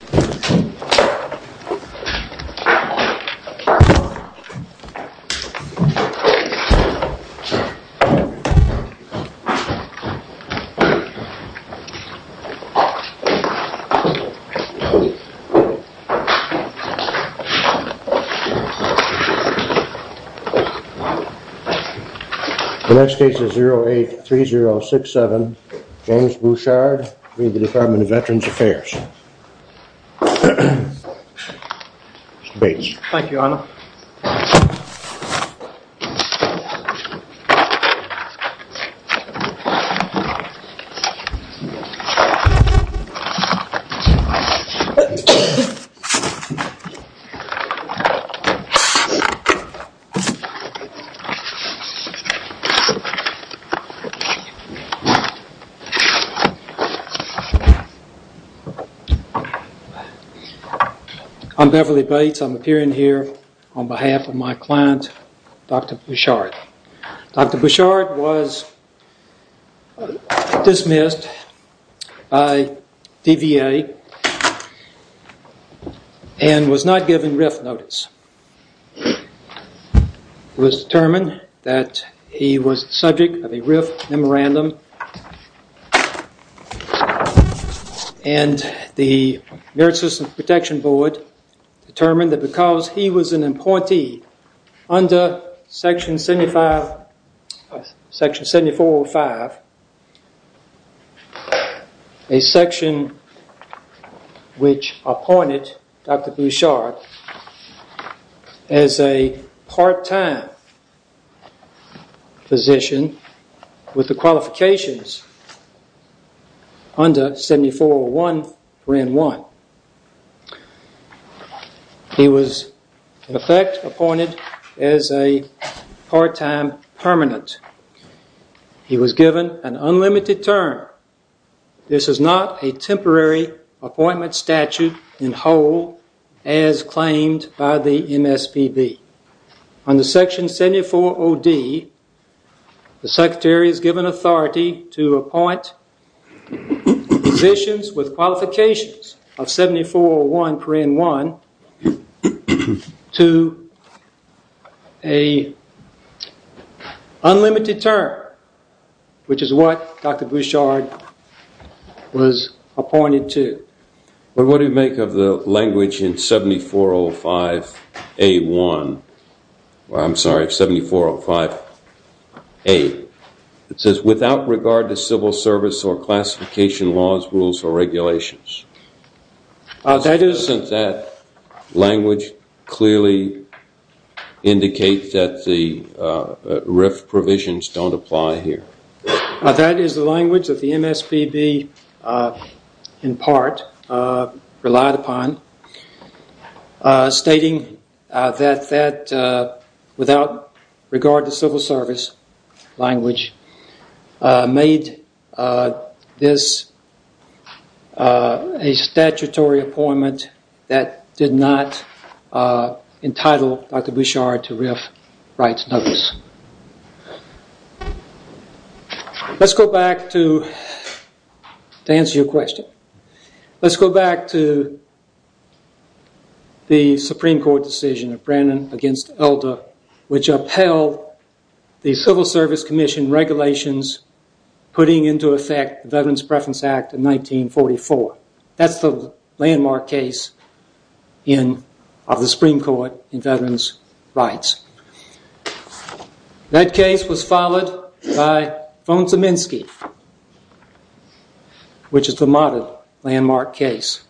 The next case is 083067 James Bouchard v. Department of Veterans Affairs. Mr. Bates. I'm Beverly Bates. I'm appearing here on behalf of my client, Dr. Bouchard. Dr. Bouchard was dismissed by DVA and was not given RIF notice. It was determined that he was the subject of a RIF memorandum and the American Citizens Protection Board determined that because he was an appointee under section 7405, a section which appointed Dr. Bouchard as a part-time physician with the qualifications under 740131. He was in effect appointed as a part-time permanent. He was given an unlimited term. This is not a temporary appointment statute in whole as claimed by the MSPB. Under section 740D, the secretary is given authority to appoint physicians with qualifications of 7401 to an unlimited term, which is what Dr. Bouchard was appointed to. But what do you make of the language in 7405A1, I'm sorry, 7405A. It says, without regard to civil service or classification laws, rules, or regulations. That is. Since that language clearly indicates that the RIF provisions don't apply here. That is the language that the MSPB in part relied upon, stating that without regard to civil service language made this a statutory appointment that did not entitle Dr. Bouchard to RIF rights notice. Let's go back to, to answer your question. Let's go back to the Supreme Court decision of Brannon against Elder, which upheld the Civil Service Commission regulations putting into effect Veterans Preference Act of 1944. That's the landmark case of the Supreme Court in Veterans Rights. That case was followed by Von Zeminsky, which is the modern landmark case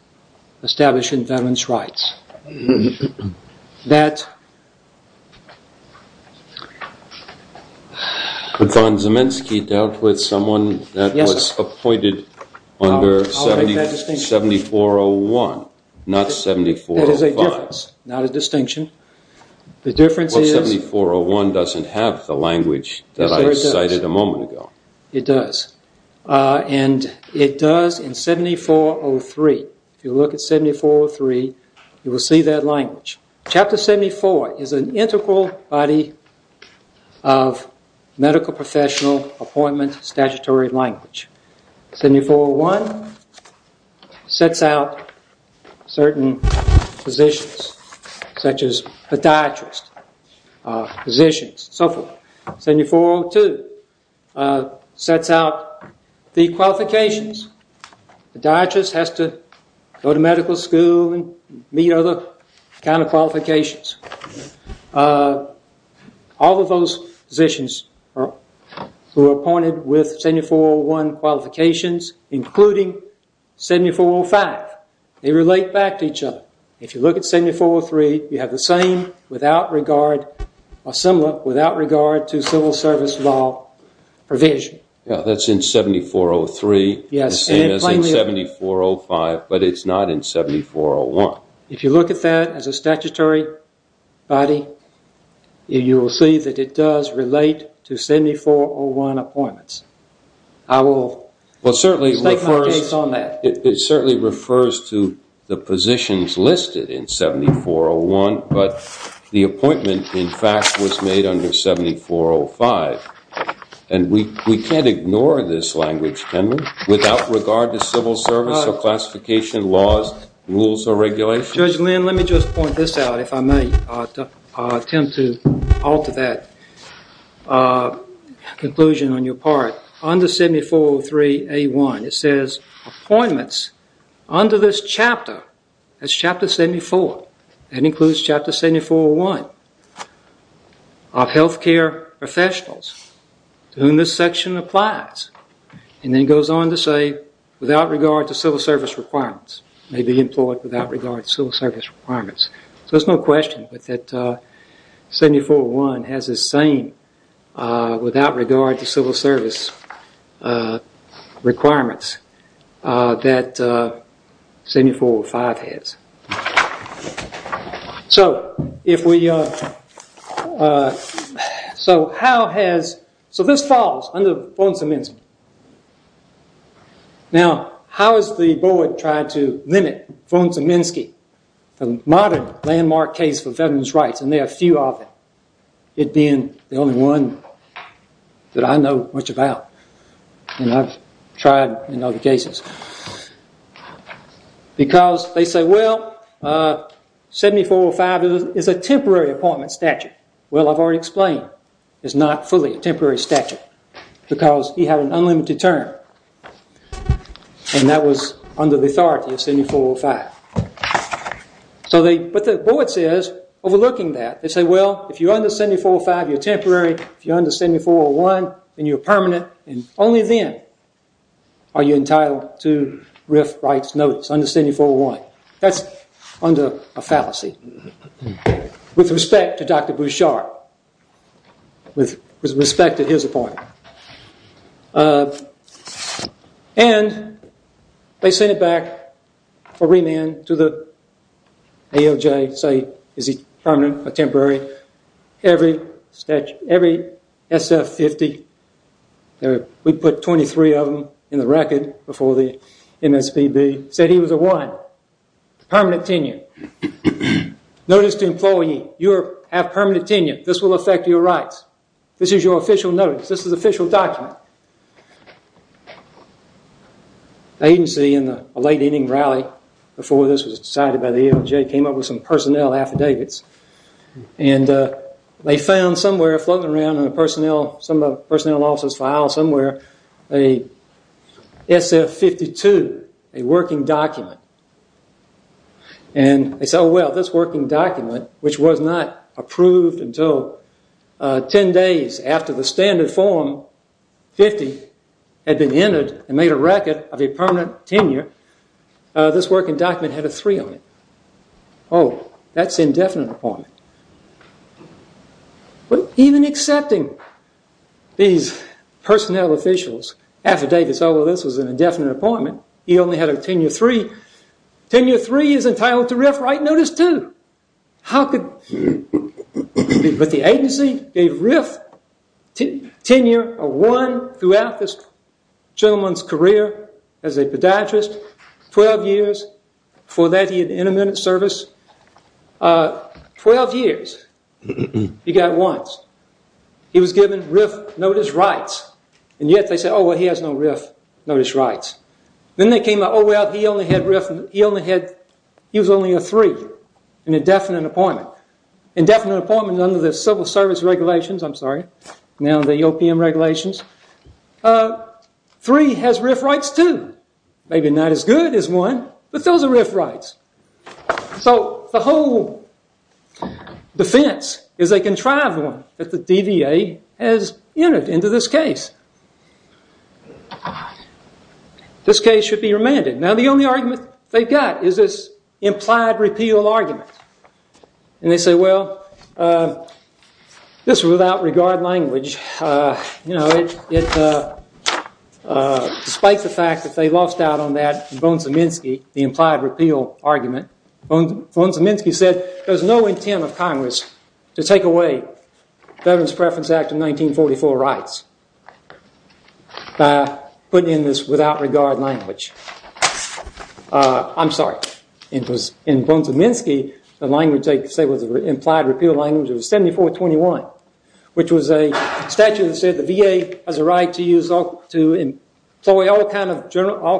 established in Veterans Rights. That... Von Zeminsky dealt with someone that was appointed under 7401, not 7405. That is a difference, not a distinction. The difference is... 7401 doesn't have the language that I cited a moment ago. It does. And it does in 7403. If you look at 7403, you will see that language. Chapter 74 is an integral body of medical professional appointment statutory language. 7401 sets out certain positions, such as podiatrist, physicians, so forth. 7402 sets out the qualifications. Podiatrist has to go to medical school and meet other kind of qualifications. All of those physicians who are appointed with 7401 qualifications, including 7405, they relate back to each other. If you look at 7403, you have the same without regard to civil service law provision. That's in 7403, the same as in 7405, but it's not in 7401. If you look at that as a statutory body, you will see that it does relate to 7401 appointments. I will state my case on that. It certainly refers to the positions listed in 7401, but the appointment, in fact, was made under 7405. And we can't ignore this language, can we, without regard to civil service or classification laws, rules, or regulations? Judge Lynn, let me just point this out, if I may, to attempt to alter that conclusion on your part. Under 7403A1, it says appointments under this chapter, that's chapter 74, that includes chapter 7401, of health care professionals to whom this section applies. And then it goes on to say without regard to civil service requirements. May be employed without regard to civil service requirements. So there's no question that 7401 has the same without regard to civil service requirements that 7405 has. So this falls under von Siminski. Now, how has the board tried to limit von Siminski? The modern landmark case for veterans' rights, and there are a few of it, it being the only one that I know much about. And I've tried in other cases. Because they say, well, 7405 is a temporary appointment statute. Well, I've already explained, it's not fully a temporary statute. Because he had an unlimited term. And that was under the authority of 7405. So what the board says, overlooking that, they say, well, if you're under 7405, you're temporary. If you're under 7401, then you're permanent. And only then are you entitled to RIF rights notice, under 7401. That's under a fallacy. With respect to Dr. Bouchard. With respect to his appointment. And they sent it back for remand to the AOJ to say, is he permanent or temporary? Every SF50, we put 23 of them in the record before the MSPB, said he was a 1. Permanent tenure. Notice to employee, you have permanent tenure. This will affect your rights. This is your official notice. This is official document. Agency in the late evening rally, before this was decided by the AOJ, came up with some personnel affidavits. And they found somewhere, floating around in a personnel officer's file somewhere, a SF52, a working document. And they said, oh, well, this working document, which was not approved until 10 days after the standard form 50 had been entered and made a record of your permanent tenure, this working document had a 3 on it. Oh, that's indefinite appointment. But even accepting these personnel officials' affidavits, although this was an indefinite appointment, he only had a tenure 3. Tenure 3 is entitled to RIF right notice 2. But the agency gave RIF tenure a 1 throughout this gentleman's career as a podiatrist, 12 years. Before that, he had intermittent service. 12 years, he got 1s. He was given RIF notice rights. And yet they said, oh, well, he has no RIF notice rights. Then they came out, oh, well, he only had, he was only a 3 in indefinite appointment. Indefinite appointment under the civil service regulations, I'm sorry, now the OPM regulations. 3 has RIF rights too. Maybe not as good as 1, but those are RIF rights. So the whole defense is a contrived one that the DVA has entered into this case. This case should be remanded. Now, the only argument they've got is this implied repeal argument. And they say, well, this is without regard language. It spikes the fact that they lost out on that in Bonsaminsky, the implied repeal argument. Bonsaminsky said, there's no intent of Congress to take away the Veterans Preference Act of 1944 rights by putting in this without regard language. I'm sorry, in Bonsaminsky, the language they say was the implied repeal language was 7421, which was a statute that said the VA has a right to employ all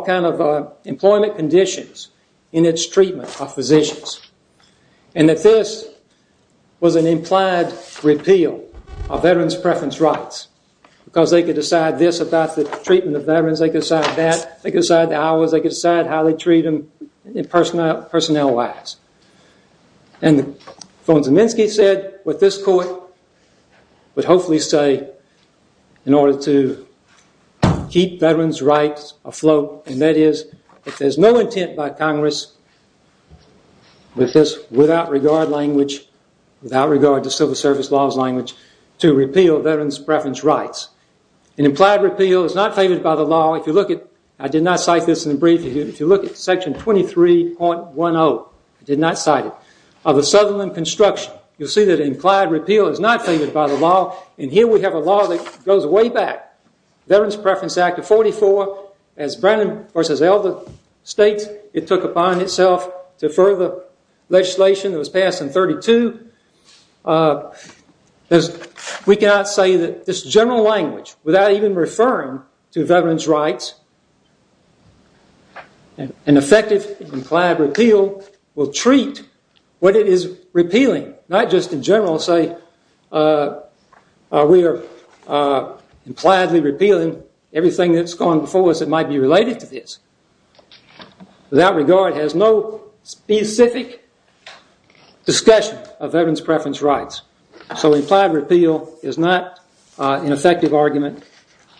kind of employment conditions in its treatment of physicians. And that this was an implied repeal of Veterans Preference rights because they could decide this about the treatment of veterans, they could decide that, they could decide the hours, they could decide how they treat them personnel-wise. And Bonsaminsky said what this court would hopefully say in order to keep veterans' rights afloat, and that is that there's no intent by Congress with this without regard language, without regard to civil service laws language, to repeal Veterans Preference rights. An implied repeal is not favored by the law. If you look at, I did not cite this in the brief, if you look at section 23.10, I did not cite it, of the Sutherland construction, you'll see that an implied repeal is not favored by the law, and here we have a law that goes way back, Veterans Preference Act of 1944, as Brennan v. Elder states, it took upon itself to further legislation that was passed in 1932. We cannot say that this general language, without even referring to veterans' rights, an effective implied repeal will treat what it is repealing, not just in general say we are impliedly repealing everything that's gone before us that might be related to this. Without regard has no specific discussion of veterans' preference rights, so implied repeal is not an effective argument.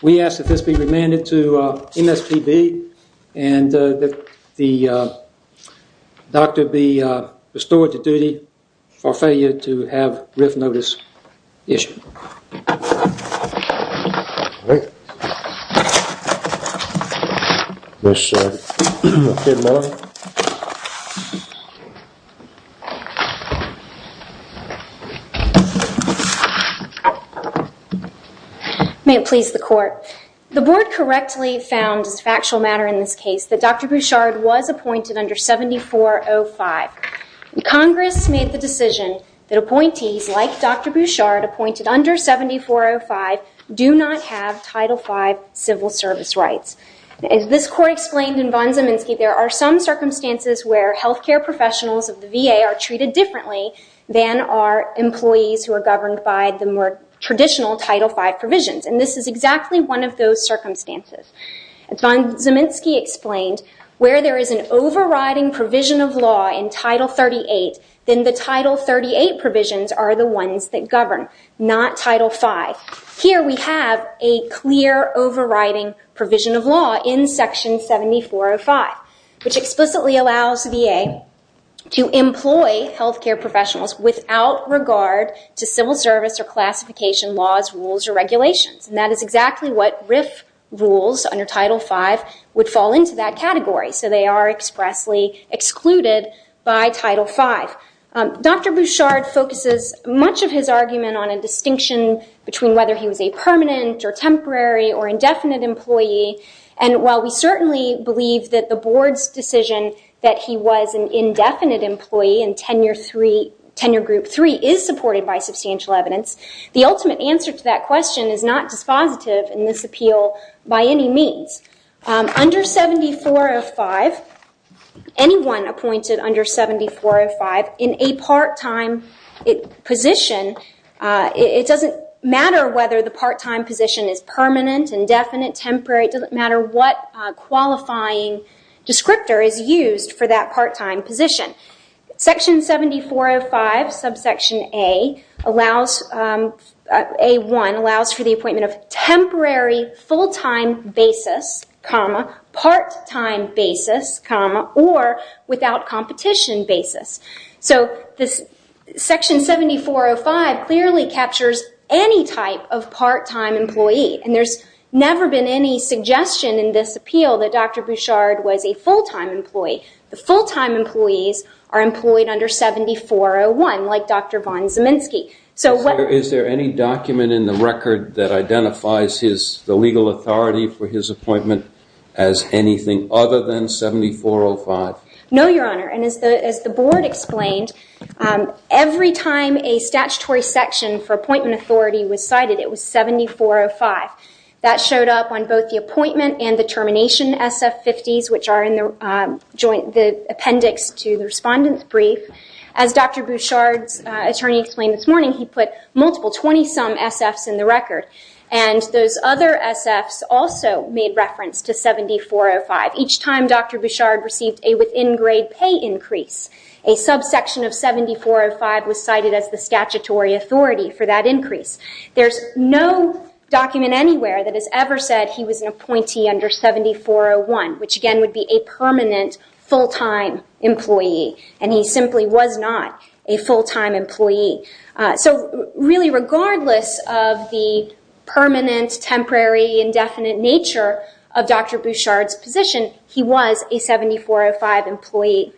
We ask that this be remanded to MSPB and that the doctor be restored to duty for failure to have riff notice issued. May it please the court. The board correctly found, as a factual matter in this case, that Dr. Bouchard was appointed under 7405. Congress made the decision that appointees like Dr. Bouchard, appointed under 7405, do not have Title V civil service rights. As this court explained in Von Zeminsky, there are some circumstances where healthcare professionals of the VA are treated differently than are employees who are governed by the more traditional Title V provisions, and this is exactly one of those circumstances. Von Zeminsky explained where there is an overriding provision of law in Title 38, then the Title 38 provisions are the ones that govern, not Title V. Here we have a clear overriding provision of law in Section 7405, which explicitly allows the VA to employ healthcare professionals without regard to civil service or classification laws, rules, or regulations. That is exactly what RIF rules under Title V would fall into that category, so they are expressly excluded by Title V. Dr. Bouchard focuses much of his argument on a distinction between whether he was a permanent, or temporary, or indefinite employee, and while we certainly believe that the board's decision that he was an indefinite employee in Tenure Group III is supported by substantial evidence, the ultimate answer to that question is not dispositive in this appeal by any means. Under 7405, anyone appointed under 7405 in a part-time position, it doesn't matter whether the part-time position is permanent, indefinite, temporary, it doesn't matter what qualifying descriptor is used for that part-time position. Section 7405, subsection A1, allows for the appointment of temporary full-time basis, part-time basis, or without competition basis. Section 7405 clearly captures any type of part-time employee, and there's never been any suggestion in this appeal that Dr. Bouchard was a full-time employee. The full-time employees are employed under 7401, like Dr. Von Zeminsky. Is there any document in the record that identifies the legal authority for his appointment as anything other than 7405? No, Your Honor, and as the board explained, every time a statutory section for appointment authority was cited, it was 7405. That showed up on both the appointment and the termination SF50s, which are in the appendix to the respondent's brief. As Dr. Bouchard's attorney explained this morning, he put multiple 20-some SFs in the record, and those other SFs also made reference to 7405. Each time Dr. Bouchard received a within-grade pay increase, a subsection of 7405 was cited as the statutory authority for that increase. There's no document anywhere that has ever said he was an appointee under 7401, which again would be a permanent full-time employee, and he simply was not a full-time employee. So really regardless of the permanent, temporary, indefinite nature of Dr. Bouchard's position, he was a 7405 employee.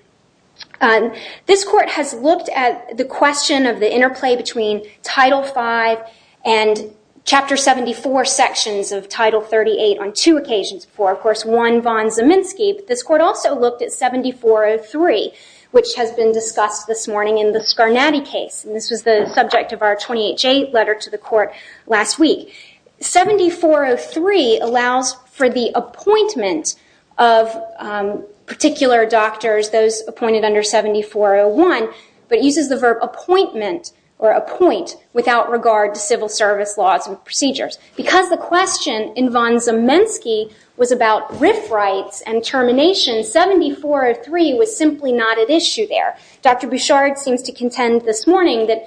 This court has looked at the question of the interplay between Title V and Chapter 74 sections of Title 38 on two occasions before. Of course, one, von Zeminsky, but this court also looked at 7403, which has been discussed this morning in the Scarnati case, and this was the subject of our 28J letter to the court last week. 7403 allows for the appointment of particular doctors, those appointed under 7401, but uses the verb appointment or appoint without regard to civil service laws and procedures. Because the question in von Zeminsky was about riff rights and termination, 7403 was simply not at issue there. Dr. Bouchard seems to contend this morning that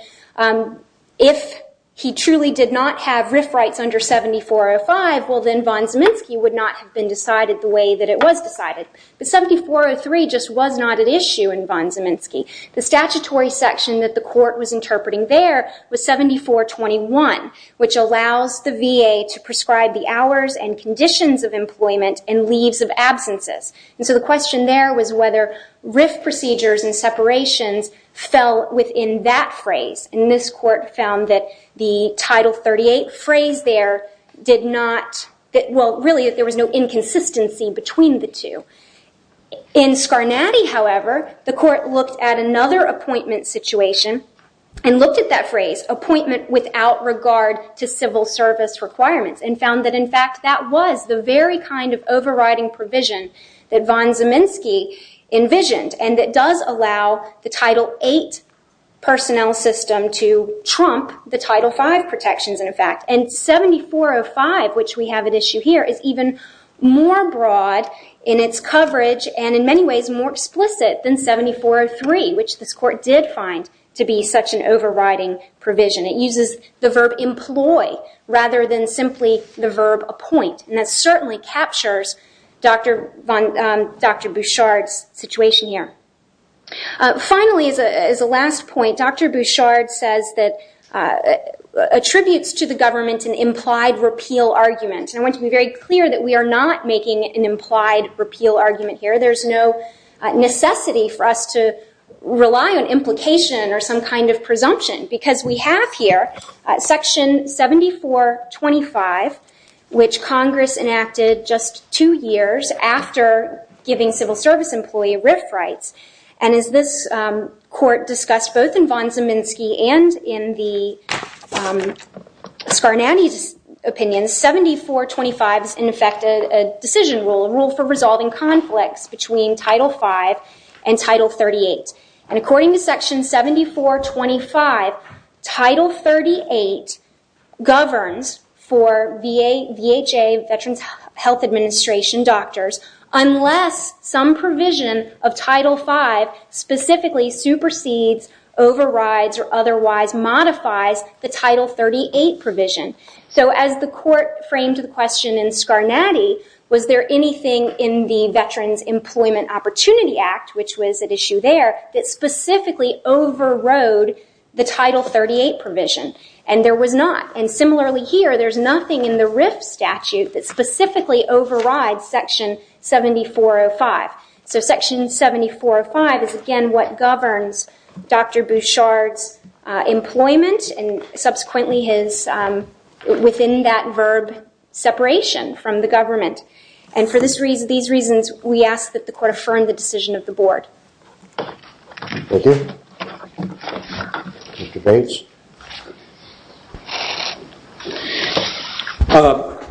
if he truly did not have riff rights under 7405, well then von Zeminsky would not have been decided the way that it was decided. But 7403 just was not at issue in von Zeminsky. The statutory section that the court was interpreting there was 7421, which allows the VA to prescribe the hours and conditions of employment and leaves of absences. And so the question there was whether riff procedures and separations fell within that phrase. And this court found that the Title 38 phrase there did not, well, really there was no inconsistency between the two. In Scarnati, however, the court looked at another appointment situation and looked at that phrase, appointment without regard to civil service requirements, and found that in fact that was the very kind of overriding provision that von Zeminsky envisioned and that does allow the Title VIII personnel system to trump the Title V protections, in fact. And 7405, which we have at issue here, is even more broad in its coverage and in many ways more explicit than 7403, which this court did find to be such an overriding provision. It uses the verb employ rather than simply the verb appoint. And that certainly captures Dr. Bouchard's situation here. Finally, as a last point, Dr. Bouchard says that attributes to the government an implied repeal argument. And I want to be very clear that we are not making an implied repeal argument here. There's no necessity for us to rely on implication or some kind of presumption because we have here Section 7425, which Congress enacted just two years after giving civil service employee a riff rights. And as this court discussed both in von Zeminsky and in the Scarnati's opinion, 7425 is in effect a decision rule, a rule for resolving conflicts between Title V and Title 38. And according to Section 7425, Title 38 governs for VHA, Veterans Health Administration doctors, unless some provision of Title V specifically supersedes, overrides, or otherwise modifies the Title 38 provision. So as the court framed the question in Scarnati, was there anything in the Veterans Employment Opportunity Act, which was at issue there, that specifically overrode the Title 38 provision? And there was not. And similarly here, there's nothing in the RIF statute that specifically overrides Section 7405. So Section 7405 is, again, what governs Dr. Bouchard's employment and subsequently his, within that verb, separation from the government. And for these reasons, we ask that the court affirm the decision of the board. Thank you. Mr. Bates?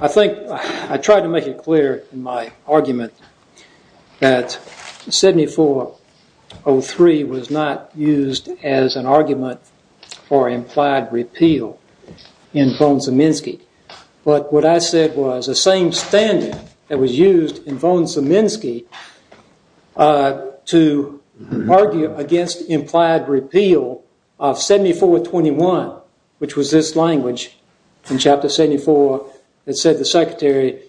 I think I tried to make it clear in my argument that 7403 was not used as an argument for implied repeal in von Siminski. But what I said was the same standard that was used in von Siminski to argue against implied repeal of 7421, which was this language in Chapter 74, that said the secretary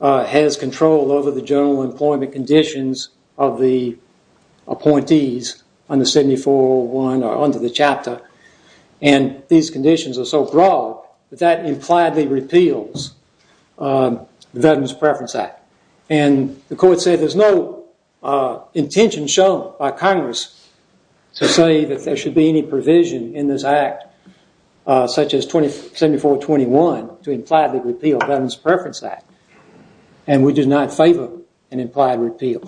has control over the general employment conditions of the appointees under 7401 or under the chapter. And these conditions are so broad that that impliedly repeals the Veterans Preference Act. And the court said there's no intention shown by Congress to say that there should be any provision in this act, such as 7421, to impliedly repeal Veterans Preference Act. And we do not favor an implied repeal.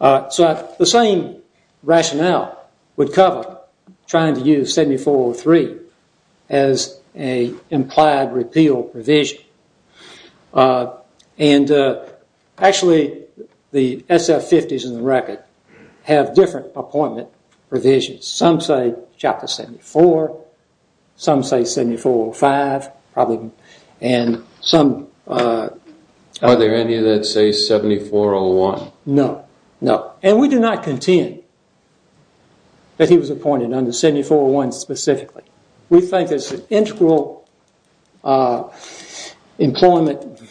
So the same rationale would cover trying to use 7403 as an implied repeal provision. And actually, the SF50s in the record have different appointment provisions. Some say Chapter 74. Some say 7405. Are there any that say 7401? No. And we do not contend that he was appointed under 7401 specifically. We think there's an integral employment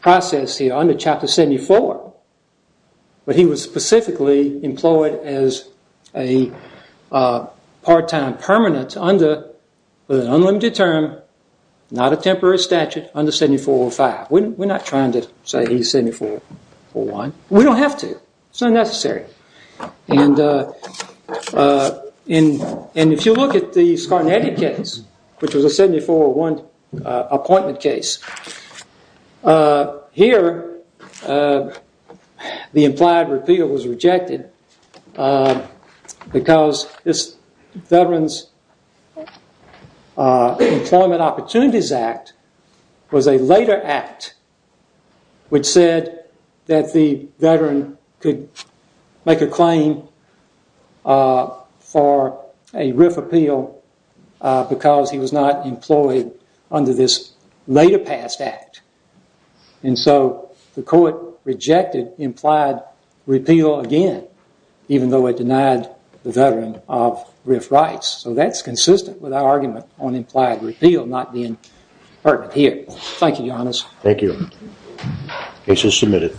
process here under Chapter 74. But he was specifically employed as a part-time permanent under an unlimited term, not a temporary statute, under 7405. We're not trying to say he's 7401. We don't have to. It's not necessary. And if you look at the Scarnetti case, which was a 7401 appointment case, here the implied repeal was rejected because Veterans Employment Opportunities Act was a later act which said that the veteran could make a claim for a RIF appeal because he was not employed under this later past act. And so the court rejected implied repeal again, even though it denied the veteran of RIF rights. So that's consistent with our argument on implied repeal not being pertinent here. Thank you, Your Honors. Thank you. Case is submitted.